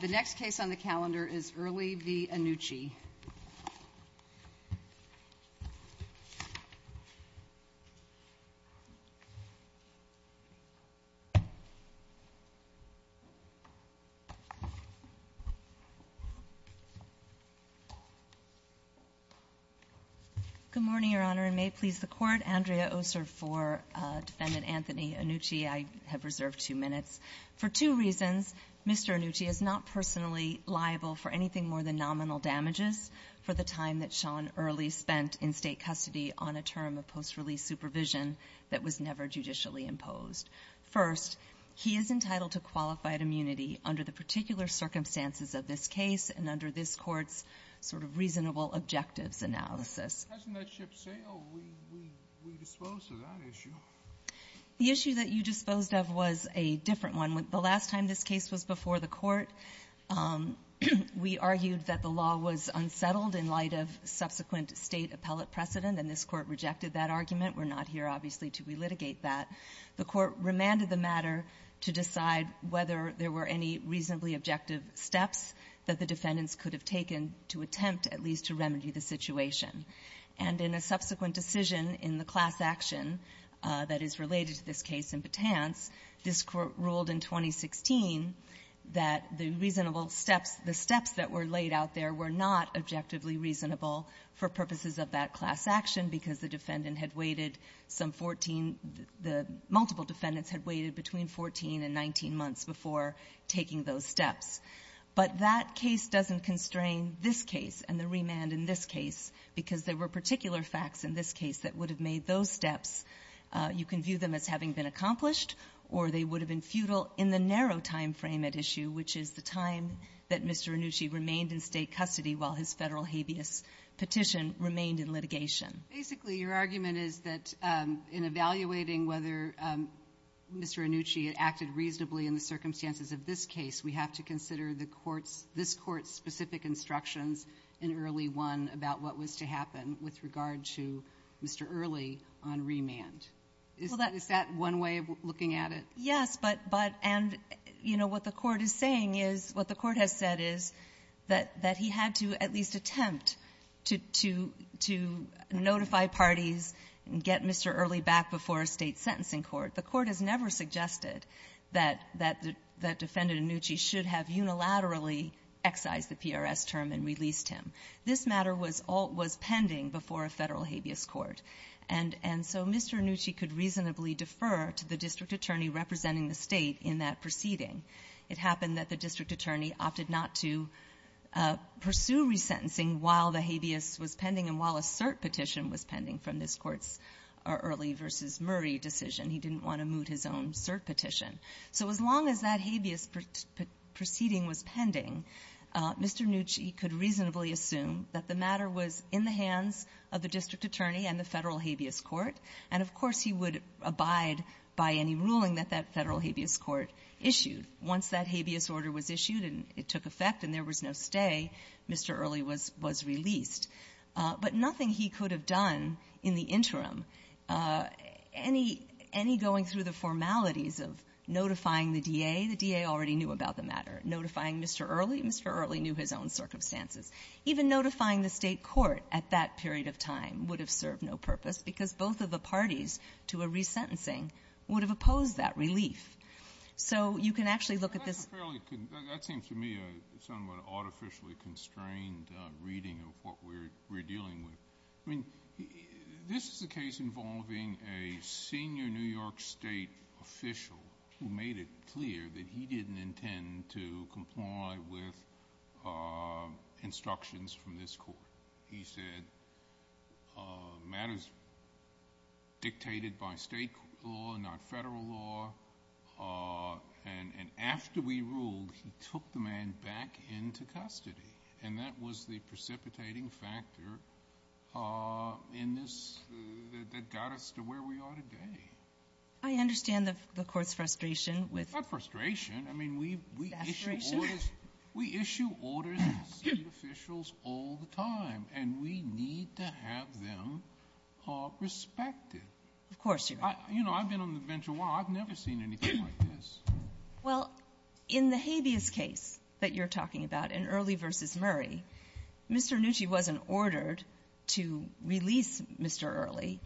The next case on the calendar is Earley v. Annucci. Good morning, Your Honor, and may it please the Court, Andrea Oser for Defendant Anthony Annucci. I have reserved two minutes. For two reasons, Mr. Annucci is not personally liable for anything more than nominal damages for the time that Sean Earley spent in State custody on a term of post-release supervision that was never judicially imposed. First, he is entitled to qualified immunity under the particular circumstances of this case and under this Court's sort of reasonable objectives analysis. The issue that you disposed of was a different one. The last time this case was before the Court, we argued that the law was unsettled in light of subsequent State appellate precedent, and this Court rejected that argument. We're not here, obviously, to relitigate that. The Court remanded the matter to decide whether there were any reasonably objective steps that the defendants could have taken to attempt at least to remedy the situation. And in a subsequent decision in the class action that is related to this case in Batanz, this Court ruled in 2016 that the reasonable steps, the steps that were laid out there were not objectively reasonable for purposes of that class action because the defendant had waited some 14 the multiple defendants had waited between 14 and 19 months before taking those steps. But that case doesn't constrain this case and the remand in this case because there were particular facts in this case that would have made those steps, you can view them as having been accomplished, or they would have been futile in the narrow time frame at issue, which is the time that Mr. Anucci remained in State custody while his Federal habeas petition remained in litigation. Basically, your argument is that in evaluating whether Mr. Anucci acted reasonably in the circumstances of this case, we have to consider the Court's, this Court's specific instructions in Early 1 about what was to happen with regard to Mr. Early on remand. Is that one way of looking at it? Yes. But, but, and, you know, what the Court is saying is, what the Court has said is that he had to at least attempt to, to, to notify parties and get Mr. Early back before a State sentencing court. The Court has never suggested that, that, that Defendant Anucci should have unilaterally excised the PRS term and released him. This matter was pending before a Federal habeas court. And, and so Mr. Anucci could reasonably defer to the district attorney representing the State in that proceeding. It happened that the district attorney opted not to pursue resentencing while the habeas was pending and while a cert petition was pending from this Court's Early v. Murray decision. He didn't want to moot his own cert petition. So as long as that habeas proceeding was pending, Mr. Anucci could reasonably assume that the matter was in the hands of the district attorney and the Federal habeas court. And, of course, he would abide by any ruling that that Federal habeas court issued. Once that habeas order was issued and it took effect and there was no stay, Mr. Early was released. But nothing he could have done in the interim, any going through the formalities of notifying the DA, the DA already knew about the matter. Notifying Mr. Early, Mr. Early knew his own circumstances. Even notifying the State court at that period of time would have served no purpose because both of the parties to a resentencing would have opposed that relief. So you can actually look at this as a fairly That seems to me a somewhat artificially constrained reading of what we're dealing with. I mean, this is a case involving a senior New York State official who made it clear that he didn't intend to comply with instructions from this court. He said, matters dictated by State law, not Federal law, and after we ruled he took the man back into custody. And that was the precipitating factor in this that got us to where we are today. I understand the Court's frustration with Not frustration. I mean, we issue orders. We issue orders to State officials all the time, and we need to have them respected. Of course, Your Honor. You know, I've been on the bench a while. I've never seen anything like this. Well, in the habeas case that you're talking about, in Early v. Murray, Mr. Rannucci wasn't ordered to release Mr. Early.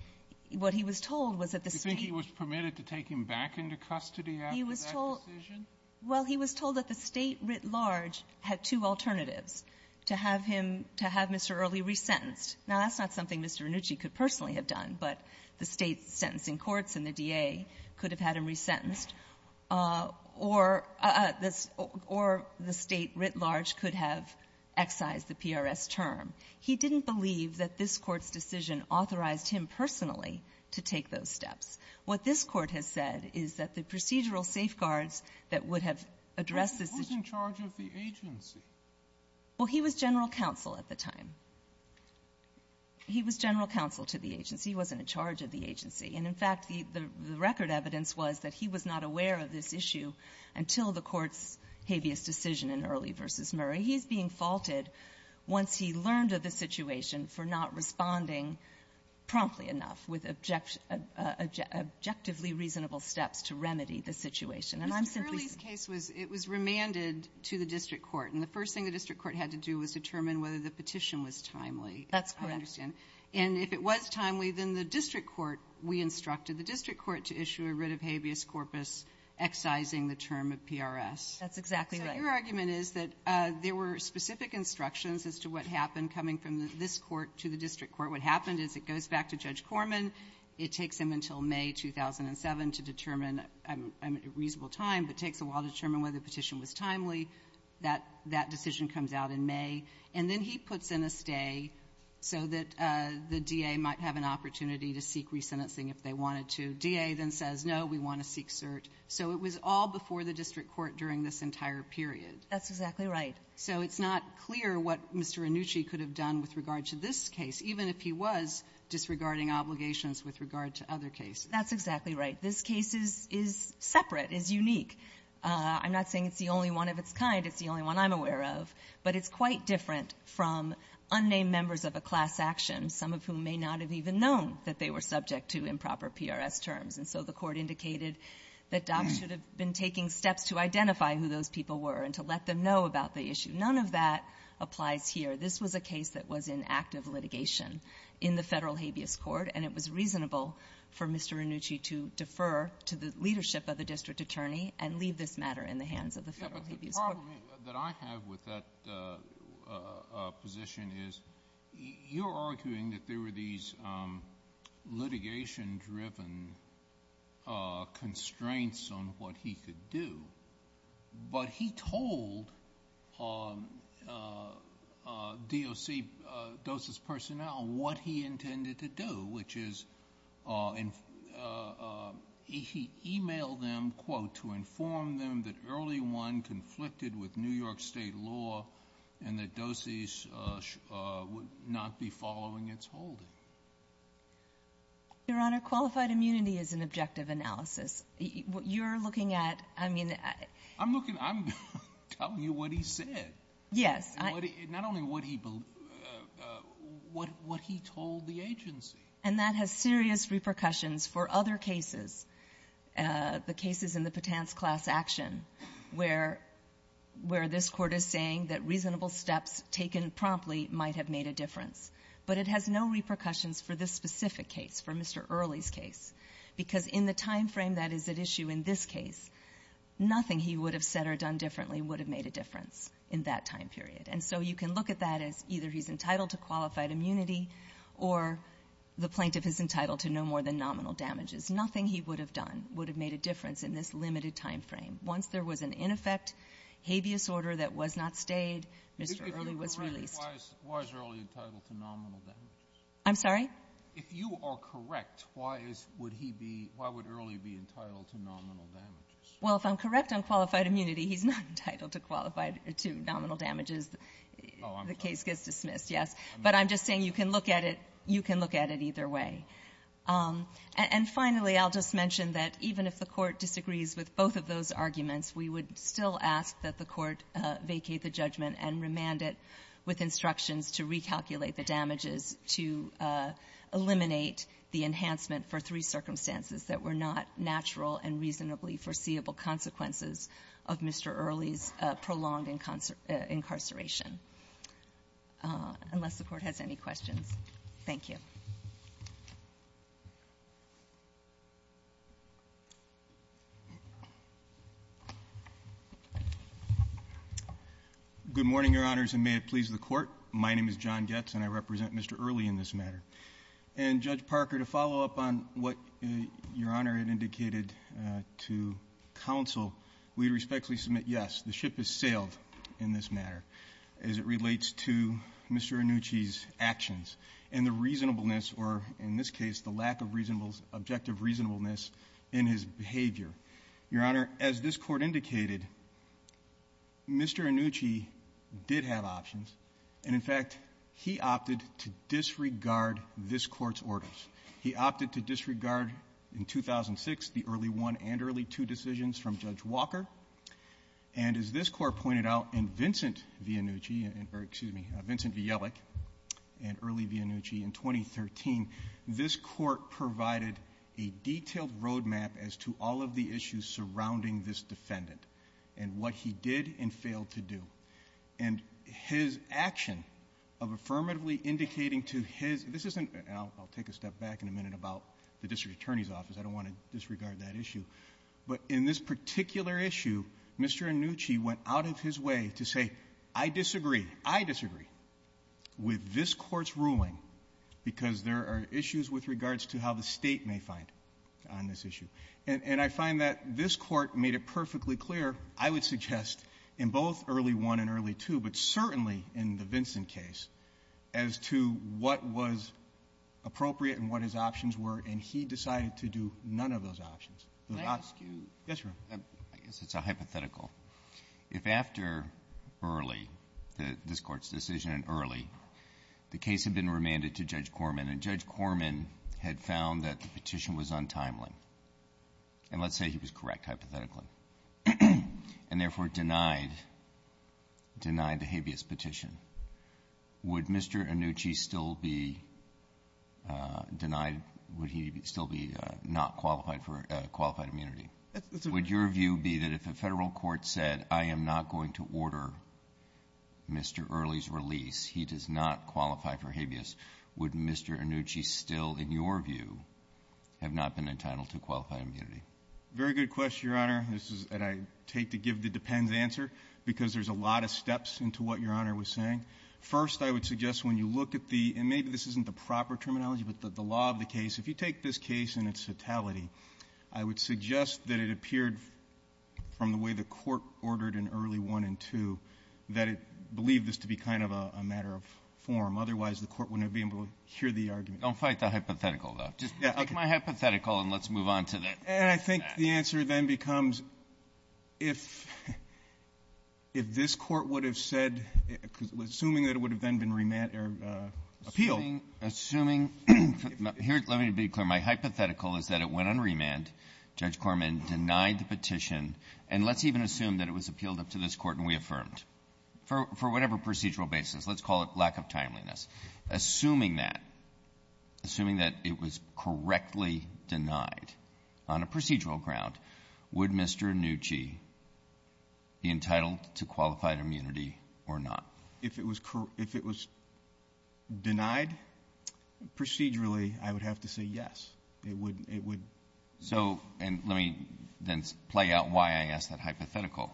What he was told was that the State Do you think he was permitted to take him back into custody after that decision? Well, he was told that the State writ large had two alternatives, to have him to have Mr. Early resentenced. Now, that's not something Mr. Rannucci could personally have done, but the State's sentencing courts and the D.A. could have had him resentenced, or this or the State writ large could have excised the PRS term. He didn't believe that this Court's decision authorized him personally to take those steps. What this Court has said is that the procedural safeguards that would have addressed this decision Who was in charge of the agency? Well, he was general counsel at the time. He was general counsel to the agency. He wasn't in charge of the agency. And, in fact, the record evidence was that he was not aware of this issue until the Court's habeas decision in Early v. Murray. He's being faulted, once he learned of the situation, for not responding promptly enough with objectively reasonable steps to remedy the situation. And I'm simply Mr. Early's case was, it was remanded to the district court, and the first thing the district court had to do was determine whether the petition was timely. That's correct. I understand. And if it was timely, then the district court, we instructed the district court to issue a writ of habeas corpus excising the term of PRS. That's exactly right. So your argument is that there were specific instructions as to what happened coming from this court to the district court. What happened is it goes back to Judge Corman. It takes him until May 2007 to determine a reasonable time, but takes a while to determine whether the petition was timely. That decision comes out in May. And then he puts in a stay so that the DA might have an opportunity to seek resentencing if they wanted to. DA then says, no, we want to seek cert. So it was all before the district court during this entire period. That's exactly right. So it's not clear what Mr. Annucci could have done with regard to this case, even if he was disregarding obligations with regard to other cases. That's exactly right. This case is separate, is unique. I'm not saying it's the only one of its kind. It's the only one I'm aware of. But it's quite different from unnamed members of a class action, some of whom may not have even known that they were subject to improper PRS terms. And so the Court indicated that DOPS should have been taking steps to identify who those people were and to let them know about the issue. None of that applies here. This was a case that was in active litigation in the Federal Tribune. So it's up to Mr. Annucci to defer to the leadership of the district attorney and leave this matter in the hands of the Federal Tribune. Yes, but the problem that I have with that position is you're arguing that there were these litigation-driven constraints on what he could do, but he told DOC, DOSIS personnel, what he intended to do, which is, in fact, to do what he intended to do, and he emailed them, quote, to inform them that early one conflicted with New York State law and that DOSIS would not be following its holding. Your Honor, qualified immunity is an objective analysis. You're looking at, I mean I'm looking at, I'm telling you what he said. Yes, I Not only what he, what he told the agency. And that has serious repercussions for other cases, the cases in the Patan's class action where this Court is saying that reasonable steps taken promptly might have made a difference. But it has no repercussions for this specific case, for Mr. Early's case, because in the time frame that is at issue in this case, nothing he would have said or done differently would have made a difference in that time period. And so you can look at that as either he's entitled to qualified immunity or the plaintiff is entitled to no more than nominal damages. Nothing he would have done would have made a difference in this limited time frame. Once there was an ineffect habeas order that was not stayed, Mr. Early was released. Why is Early entitled to nominal damages? I'm sorry? If you are correct, why is, would he be, why would Early be entitled to nominal damages? Well, if I'm correct on qualified immunity, he's not entitled to qualified, to nominal damages. Oh, I'm sorry. The case gets dismissed, yes. But I'm just saying you can look at it. You can look at it either way. And finally, I'll just mention that even if the Court disagrees with both of those arguments, we would still ask that the Court vacate the judgment and remand it with instructions to recalculate the damages to eliminate the enhancement for three circumstances that were not natural and reasonably foreseeable consequences of Mr. Early's prolonged incarceration. Unless the Court has any questions. Thank you. Good morning, Your Honors, and may it please the Court. My name is John Goetz, and I represent Mr. Early in this matter. And, Judge Parker, to follow up on what Your Honor had indicated to counsel, we respectfully submit, yes, the ship has sailed in this matter. As it relates to Mr. Annucci's actions and the reasonableness, or in this case, the lack of reasonableness, objective reasonableness in his behavior. Your Honor, as this Court indicated, Mr. Annucci did have options. And, in fact, he opted to disregard this Court's orders. He opted to disregard, in 2006, the early one and early two decisions from Judge Walker. And, as this Court pointed out, in Vincent Vianucci, or excuse me, Vincent Viellec, in early Vianucci in 2013, this Court provided a detailed roadmap as to all of the issues surrounding this defendant and what he did and failed to do. And his action of affirmatively indicating to his, this isn't, I'll take a step back in a minute about the district attorney's office, I don't want to disregard that issue. But in this particular issue, Mr. Annucci went out of his way to say, I disagree. I disagree with this Court's ruling because there are issues with regards to how the state may find on this issue. And I find that this Court made it perfectly clear, I would suggest, in both early one and early two, but certainly in the Vincent case, as to what was appropriate and what his options were. And he decided to do none of those options. The last few ---- Roberts. Yes, Your Honor. I guess it's a hypothetical. If after early, this Court's decision in early, the case had been remanded to Judge Corman, and Judge Corman had found that the petition was untimely, and let's say he was correct, hypothetically, and, therefore, denied, denied the habeas petition, would he still be not qualified for qualified immunity? Would your view be that if a Federal court said, I am not going to order Mr. Early's release, he does not qualify for habeas, would Mr. Annucci still, in your view, have not been entitled to qualified immunity? Very good question, Your Honor. This is what I take to give the depends answer, because there's a lot of steps into what Your Honor was saying. First, I would suggest when you look at the ---- and maybe this isn't the proper terminology, but the law of the case, if you take this case in its totality, I would suggest that it appeared from the way the Court ordered in Early 1 and 2 that it believed this to be kind of a matter of form. Otherwise, the Court wouldn't have been able to hear the argument. Don't fight the hypothetical, though. Just take my hypothetical and let's move on to that. And I think the answer then becomes, if this Court would have said, assuming that it would have then been remanded or appealed. So assuming ---- here, let me be clear. My hypothetical is that it went on remand. Judge Corman denied the petition. And let's even assume that it was appealed up to this Court and we affirmed. For whatever procedural basis, let's call it lack of timeliness. Assuming that, assuming that it was correctly denied on a procedural ground, would Mr. Annucci be entitled to qualified immunity or not? If it was denied procedurally, I would have to say yes. It would ---- So, and let me then play out why I asked that hypothetical.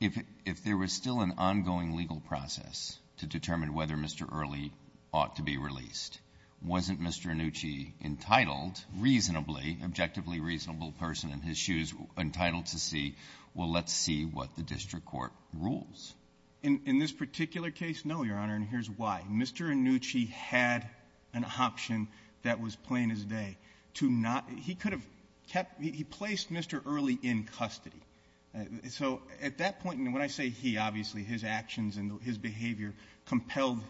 If there was still an ongoing legal process to determine whether Mr. Early ought to be released, wasn't Mr. Annucci entitled, reasonably, objectively reasonable person in his shoes entitled to see, well, let's see what the district court rules? In this particular case, no, Your Honor. And here's why. Mr. Annucci had an option that was plain as day to not ---- he could have kept ---- he placed Mr. Early in custody. So at that point, when I say he, obviously, his actions and his behavior compelled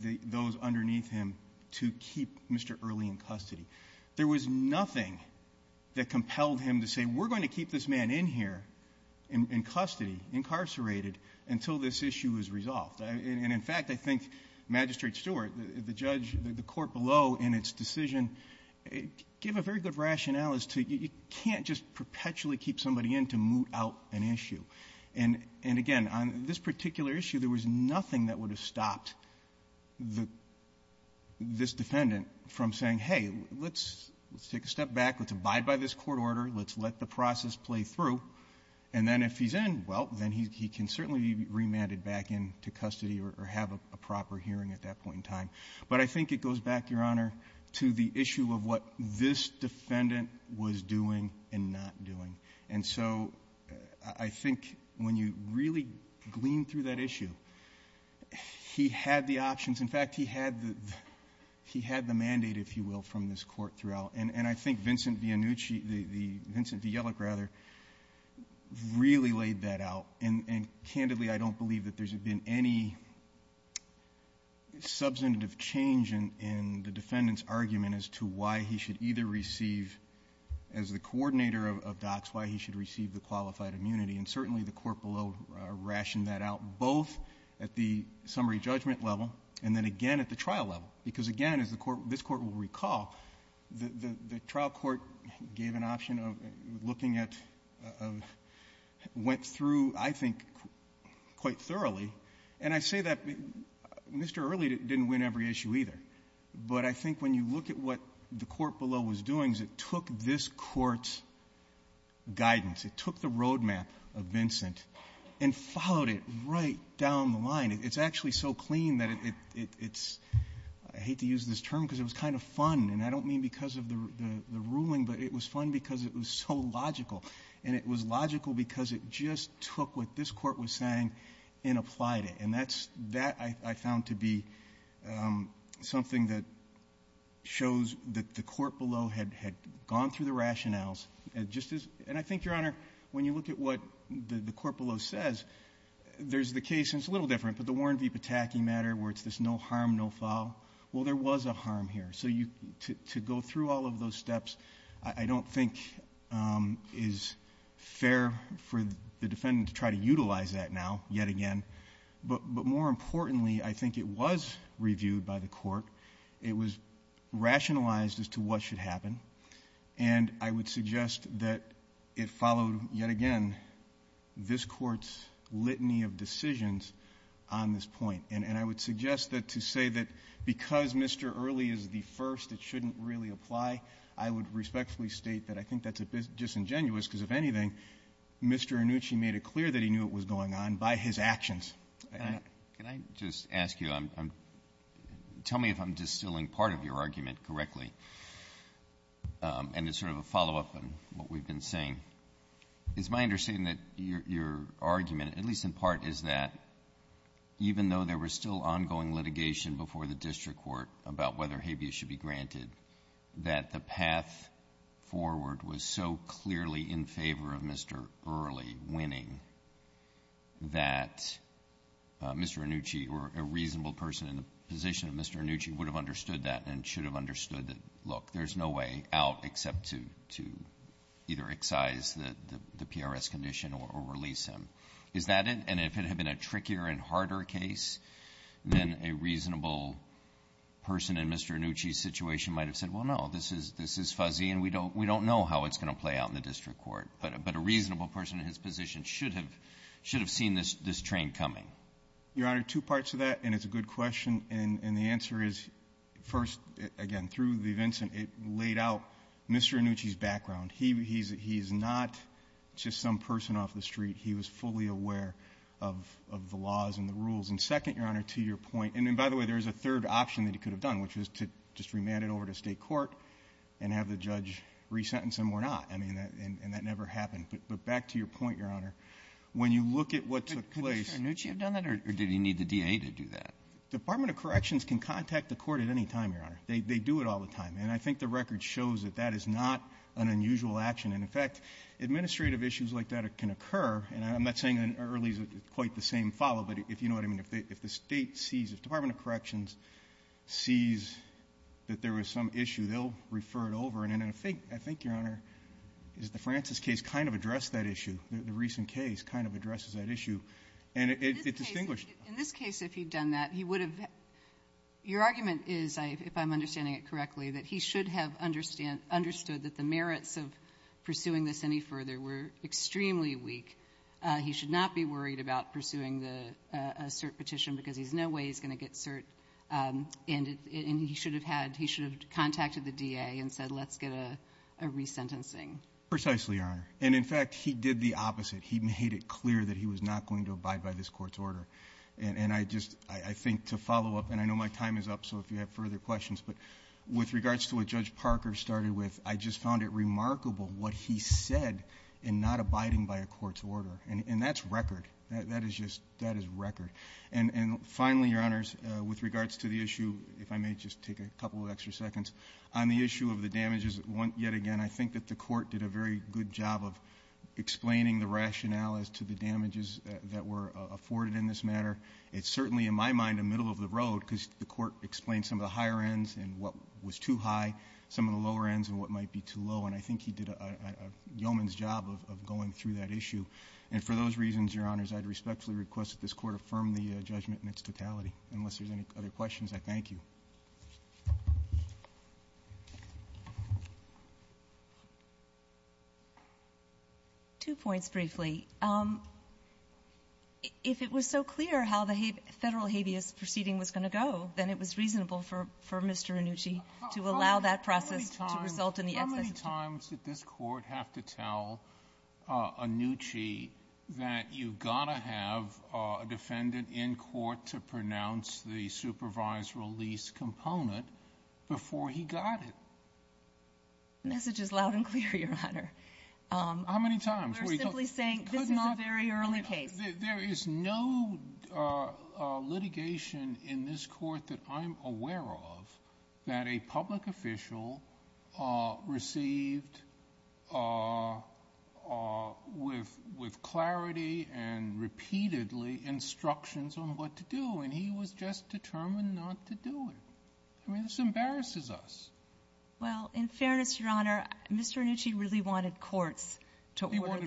those underneath him to keep Mr. Early in custody. There was nothing that compelled him to say, we're going to keep this man in here in custody, incarcerated, until this issue is resolved. And in fact, I think Magistrate Stewart, the judge, the court below in its decision gave a very good rationale as to you can't just perpetually keep somebody in to moot out an issue. And again, on this particular issue, there was nothing that would have stopped this defendant from saying, hey, let's take a step back, let's abide by this court order, let's let the process play through. And then if he's in, well, then he can certainly be remanded back into custody or have a proper hearing at that point in time. But I think it goes back, Your Honor, to the issue of what this defendant was doing and not doing. And so I think when you really glean through that issue, he had the option of not He had the options. In fact, he had the mandate, if you will, from this court throughout. And I think Vincent Vianucci, Vincent Vialic, rather, really laid that out. And candidly, I don't believe that there's been any substantive change in the defendant's argument as to why he should either receive, as the coordinator of DOCS, why he should receive the qualified immunity. And certainly, the court below rationed that out, both at the summary judgment level and then again at the trial level. Because again, as the court — this Court will recall, the trial court gave an option of looking at — went through, I think, quite thoroughly. And I say that Mr. Early didn't win every issue, either. But I think when you look at what the court below was doing is it took this Court's guidance. It took the roadmap of Vincent and followed it right down the line. It's actually so clean that it's — I hate to use this term because it was kind of fun. And I don't mean because of the ruling, but it was fun because it was so logical. And it was logical because it just took what this Court was saying and applied it. And that's — that, I found to be something that shows that the court below had gone through the rationales. And I think, Your Honor, when you look at what the court below says, there's the case — and it's a little different — but the Warren v. Pataki matter where it's this no harm, no foul, well, there was a harm here. So to go through all of those steps, I don't think is fair for the defendant to try to utilize that now, yet again. But more importantly, I think it was reviewed by the court. It was rationalized as to what should happen. And I would suggest that it followed, yet again, this Court's litany of decisions on this point. And I would suggest that to say that because Mr. Early is the first, it shouldn't really apply, I would respectfully state that I think that's a bit disingenuous because, if anything, Mr. Annucci made it clear that he knew it was going on by his actions. Can I just ask you — tell me if I'm distilling part of your argument correctly. And it's sort of a follow-up on what we've been saying. It's my understanding that your argument, at least in part, is that even though there was still ongoing litigation before the district court about whether habeas should be granted, that the path forward was so clearly in favor of Mr. Early winning that Mr. Annucci, or a reasonable person in the position of Mr. Annucci, would have understood that and should have understood that, look, there's no way out except to either excise the PRS condition or release him. Is that it? And if it had been a trickier and harder case, then a reasonable person in Mr. Annucci's situation might have said, well, no, this is fuzzy, and we don't know how it's going to play out in the district court. But a reasonable person in his position should have seen this train coming. Your Honor, two parts to that, and it's a good question. And the answer is, first, again, through the Vincent, it laid out Mr. Annucci's background. He's not just some person off the street. He was fully aware of the laws and the rules. And second, Your Honor, to your point, and then, by the way, there's a third option that he could have done, which is to just remand it over to State court and have the judge resentence him or not. I mean, and that never happened. But back to your point, Your Honor, when you look at what took place — Could Mr. Annucci have done that, or did he need the DA to do that? The Department of Corrections can contact the Court at any time, Your Honor. They do it all the time. And I think the record shows that that is not an unusual action. And, in fact, administrative issues like that can occur. And I'm not saying early is quite the same follow, but if you know what I mean. If the State sees — if the Department of Corrections sees that there was some issue, they'll refer it over. And I think, Your Honor, is the Francis case kind of addressed that issue. The recent case kind of addresses that issue. And it's distinguished. In this case, if he'd done that, he would have — your argument is, if I'm understanding it correctly, that he should have understood that the merits of pursuing this any further were extremely weak. He should not be worried about pursuing the cert petition because there's no way he's going to get cert. And he should have had — he should have contacted the DA and said, let's get a resentencing. Precisely, Your Honor. And, in fact, he did the opposite. He made it clear that he was not going to abide by this Court's order. And I just — I think, to follow up, and I know my time is up, so if you have further questions, but with regards to what Judge Parker started with, I just found it remarkable what he said in not abiding by a Court's order. And that's record. That is just — that is record. And, finally, Your Honors, with regards to the issue, if I may just take a couple of extra seconds, on the issue of the damages, yet again, I think that the Court did a very good job of explaining the rationales to the damages that were afforded in this matter. It's certainly, in my mind, a middle of the road because the Court explained some of the higher ends and what was too high, some of the lower ends and what might be too low. And I think he did a yeoman's job of going through that issue. And for those reasons, Your Honors, I'd respectfully request that this Court affirm the judgment in its totality. Unless there's any other questions, I thank you. Two points briefly. If it was so clear how the federal habeas proceeding was going to go, then it was reasonable for Mr. Annucci to allow that process to result in the execution. How many times did this Court have to tell Annucci that you've got to have a defendant in court to pronounce the supervisory release component before he got it? The message is loud and clear, Your Honor. How many times? We're simply saying this is a very early case. There is no litigation in this Court that I'm aware of that a public official received with clarity and repeatedly instructions on what to do. And he was just determined not to do it. I mean, this embarrasses us. Well, in fairness, Your Honor, Mr. Annucci really wanted courts to order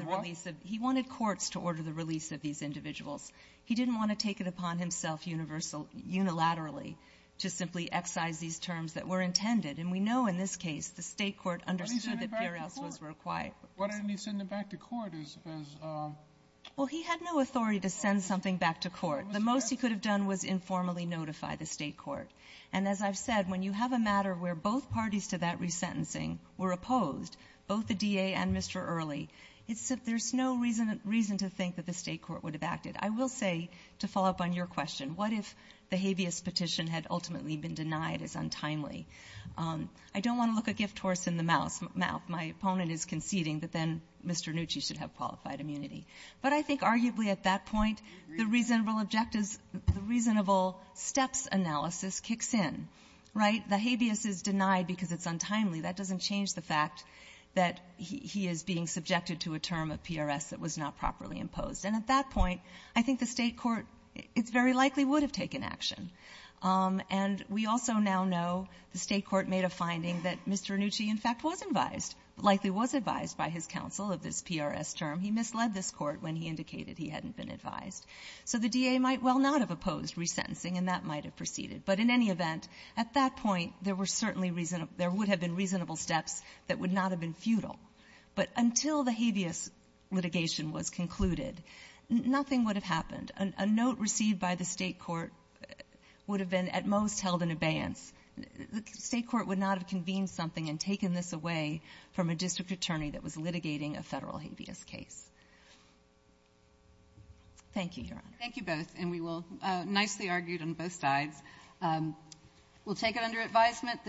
the release of these individuals. He didn't want to take it upon himself unilaterally to simply excise these terms that were intended. And we know in this case the State court understood that P.R.S. was required. Why didn't he send it back to court as a ---- Well, he had no authority to send something back to court. The most he could have done was informally notify the State court. And as I've said, when you have a matter where both parties to that resentencing were opposed, both the D.A. and Mr. Early, there's no reason to think that the State court would have acted. I will say, to follow up on your question, what if the habeas petition had ultimately been denied as untimely? I don't want to look a gift horse in the mouth. My opponent is conceding that then Mr. Annucci should have qualified immunity. But I think arguably at that point, the reasonable objectives, the reasonable steps analysis kicks in, right? The habeas is denied because it's untimely. That doesn't change the fact that he is being subjected to a term of P.R.S. that was not properly imposed. And at that point, I think the State court, it's very likely, would have taken action. And we also now know the State court made a finding that Mr. Annucci, in fact, was advised, likely was advised by his counsel of this P.R.S. term. He misled this court when he indicated he hadn't been advised. So the D.A. might well not have opposed resentencing, and that might have proceeded. But in any event, at that point, there were certainly reasonable – there would have been reasonable steps that would not have been futile. But until the habeas litigation was concluded, nothing would have happened. A note received by the State court would have been at most held in abeyance. The State court would not have convened something and taken this away from a district attorney that was litigating a Federal habeas case. Thank you, Your Honor. Thank you both. And we will – nicely argued on both sides. We'll take it under advisement.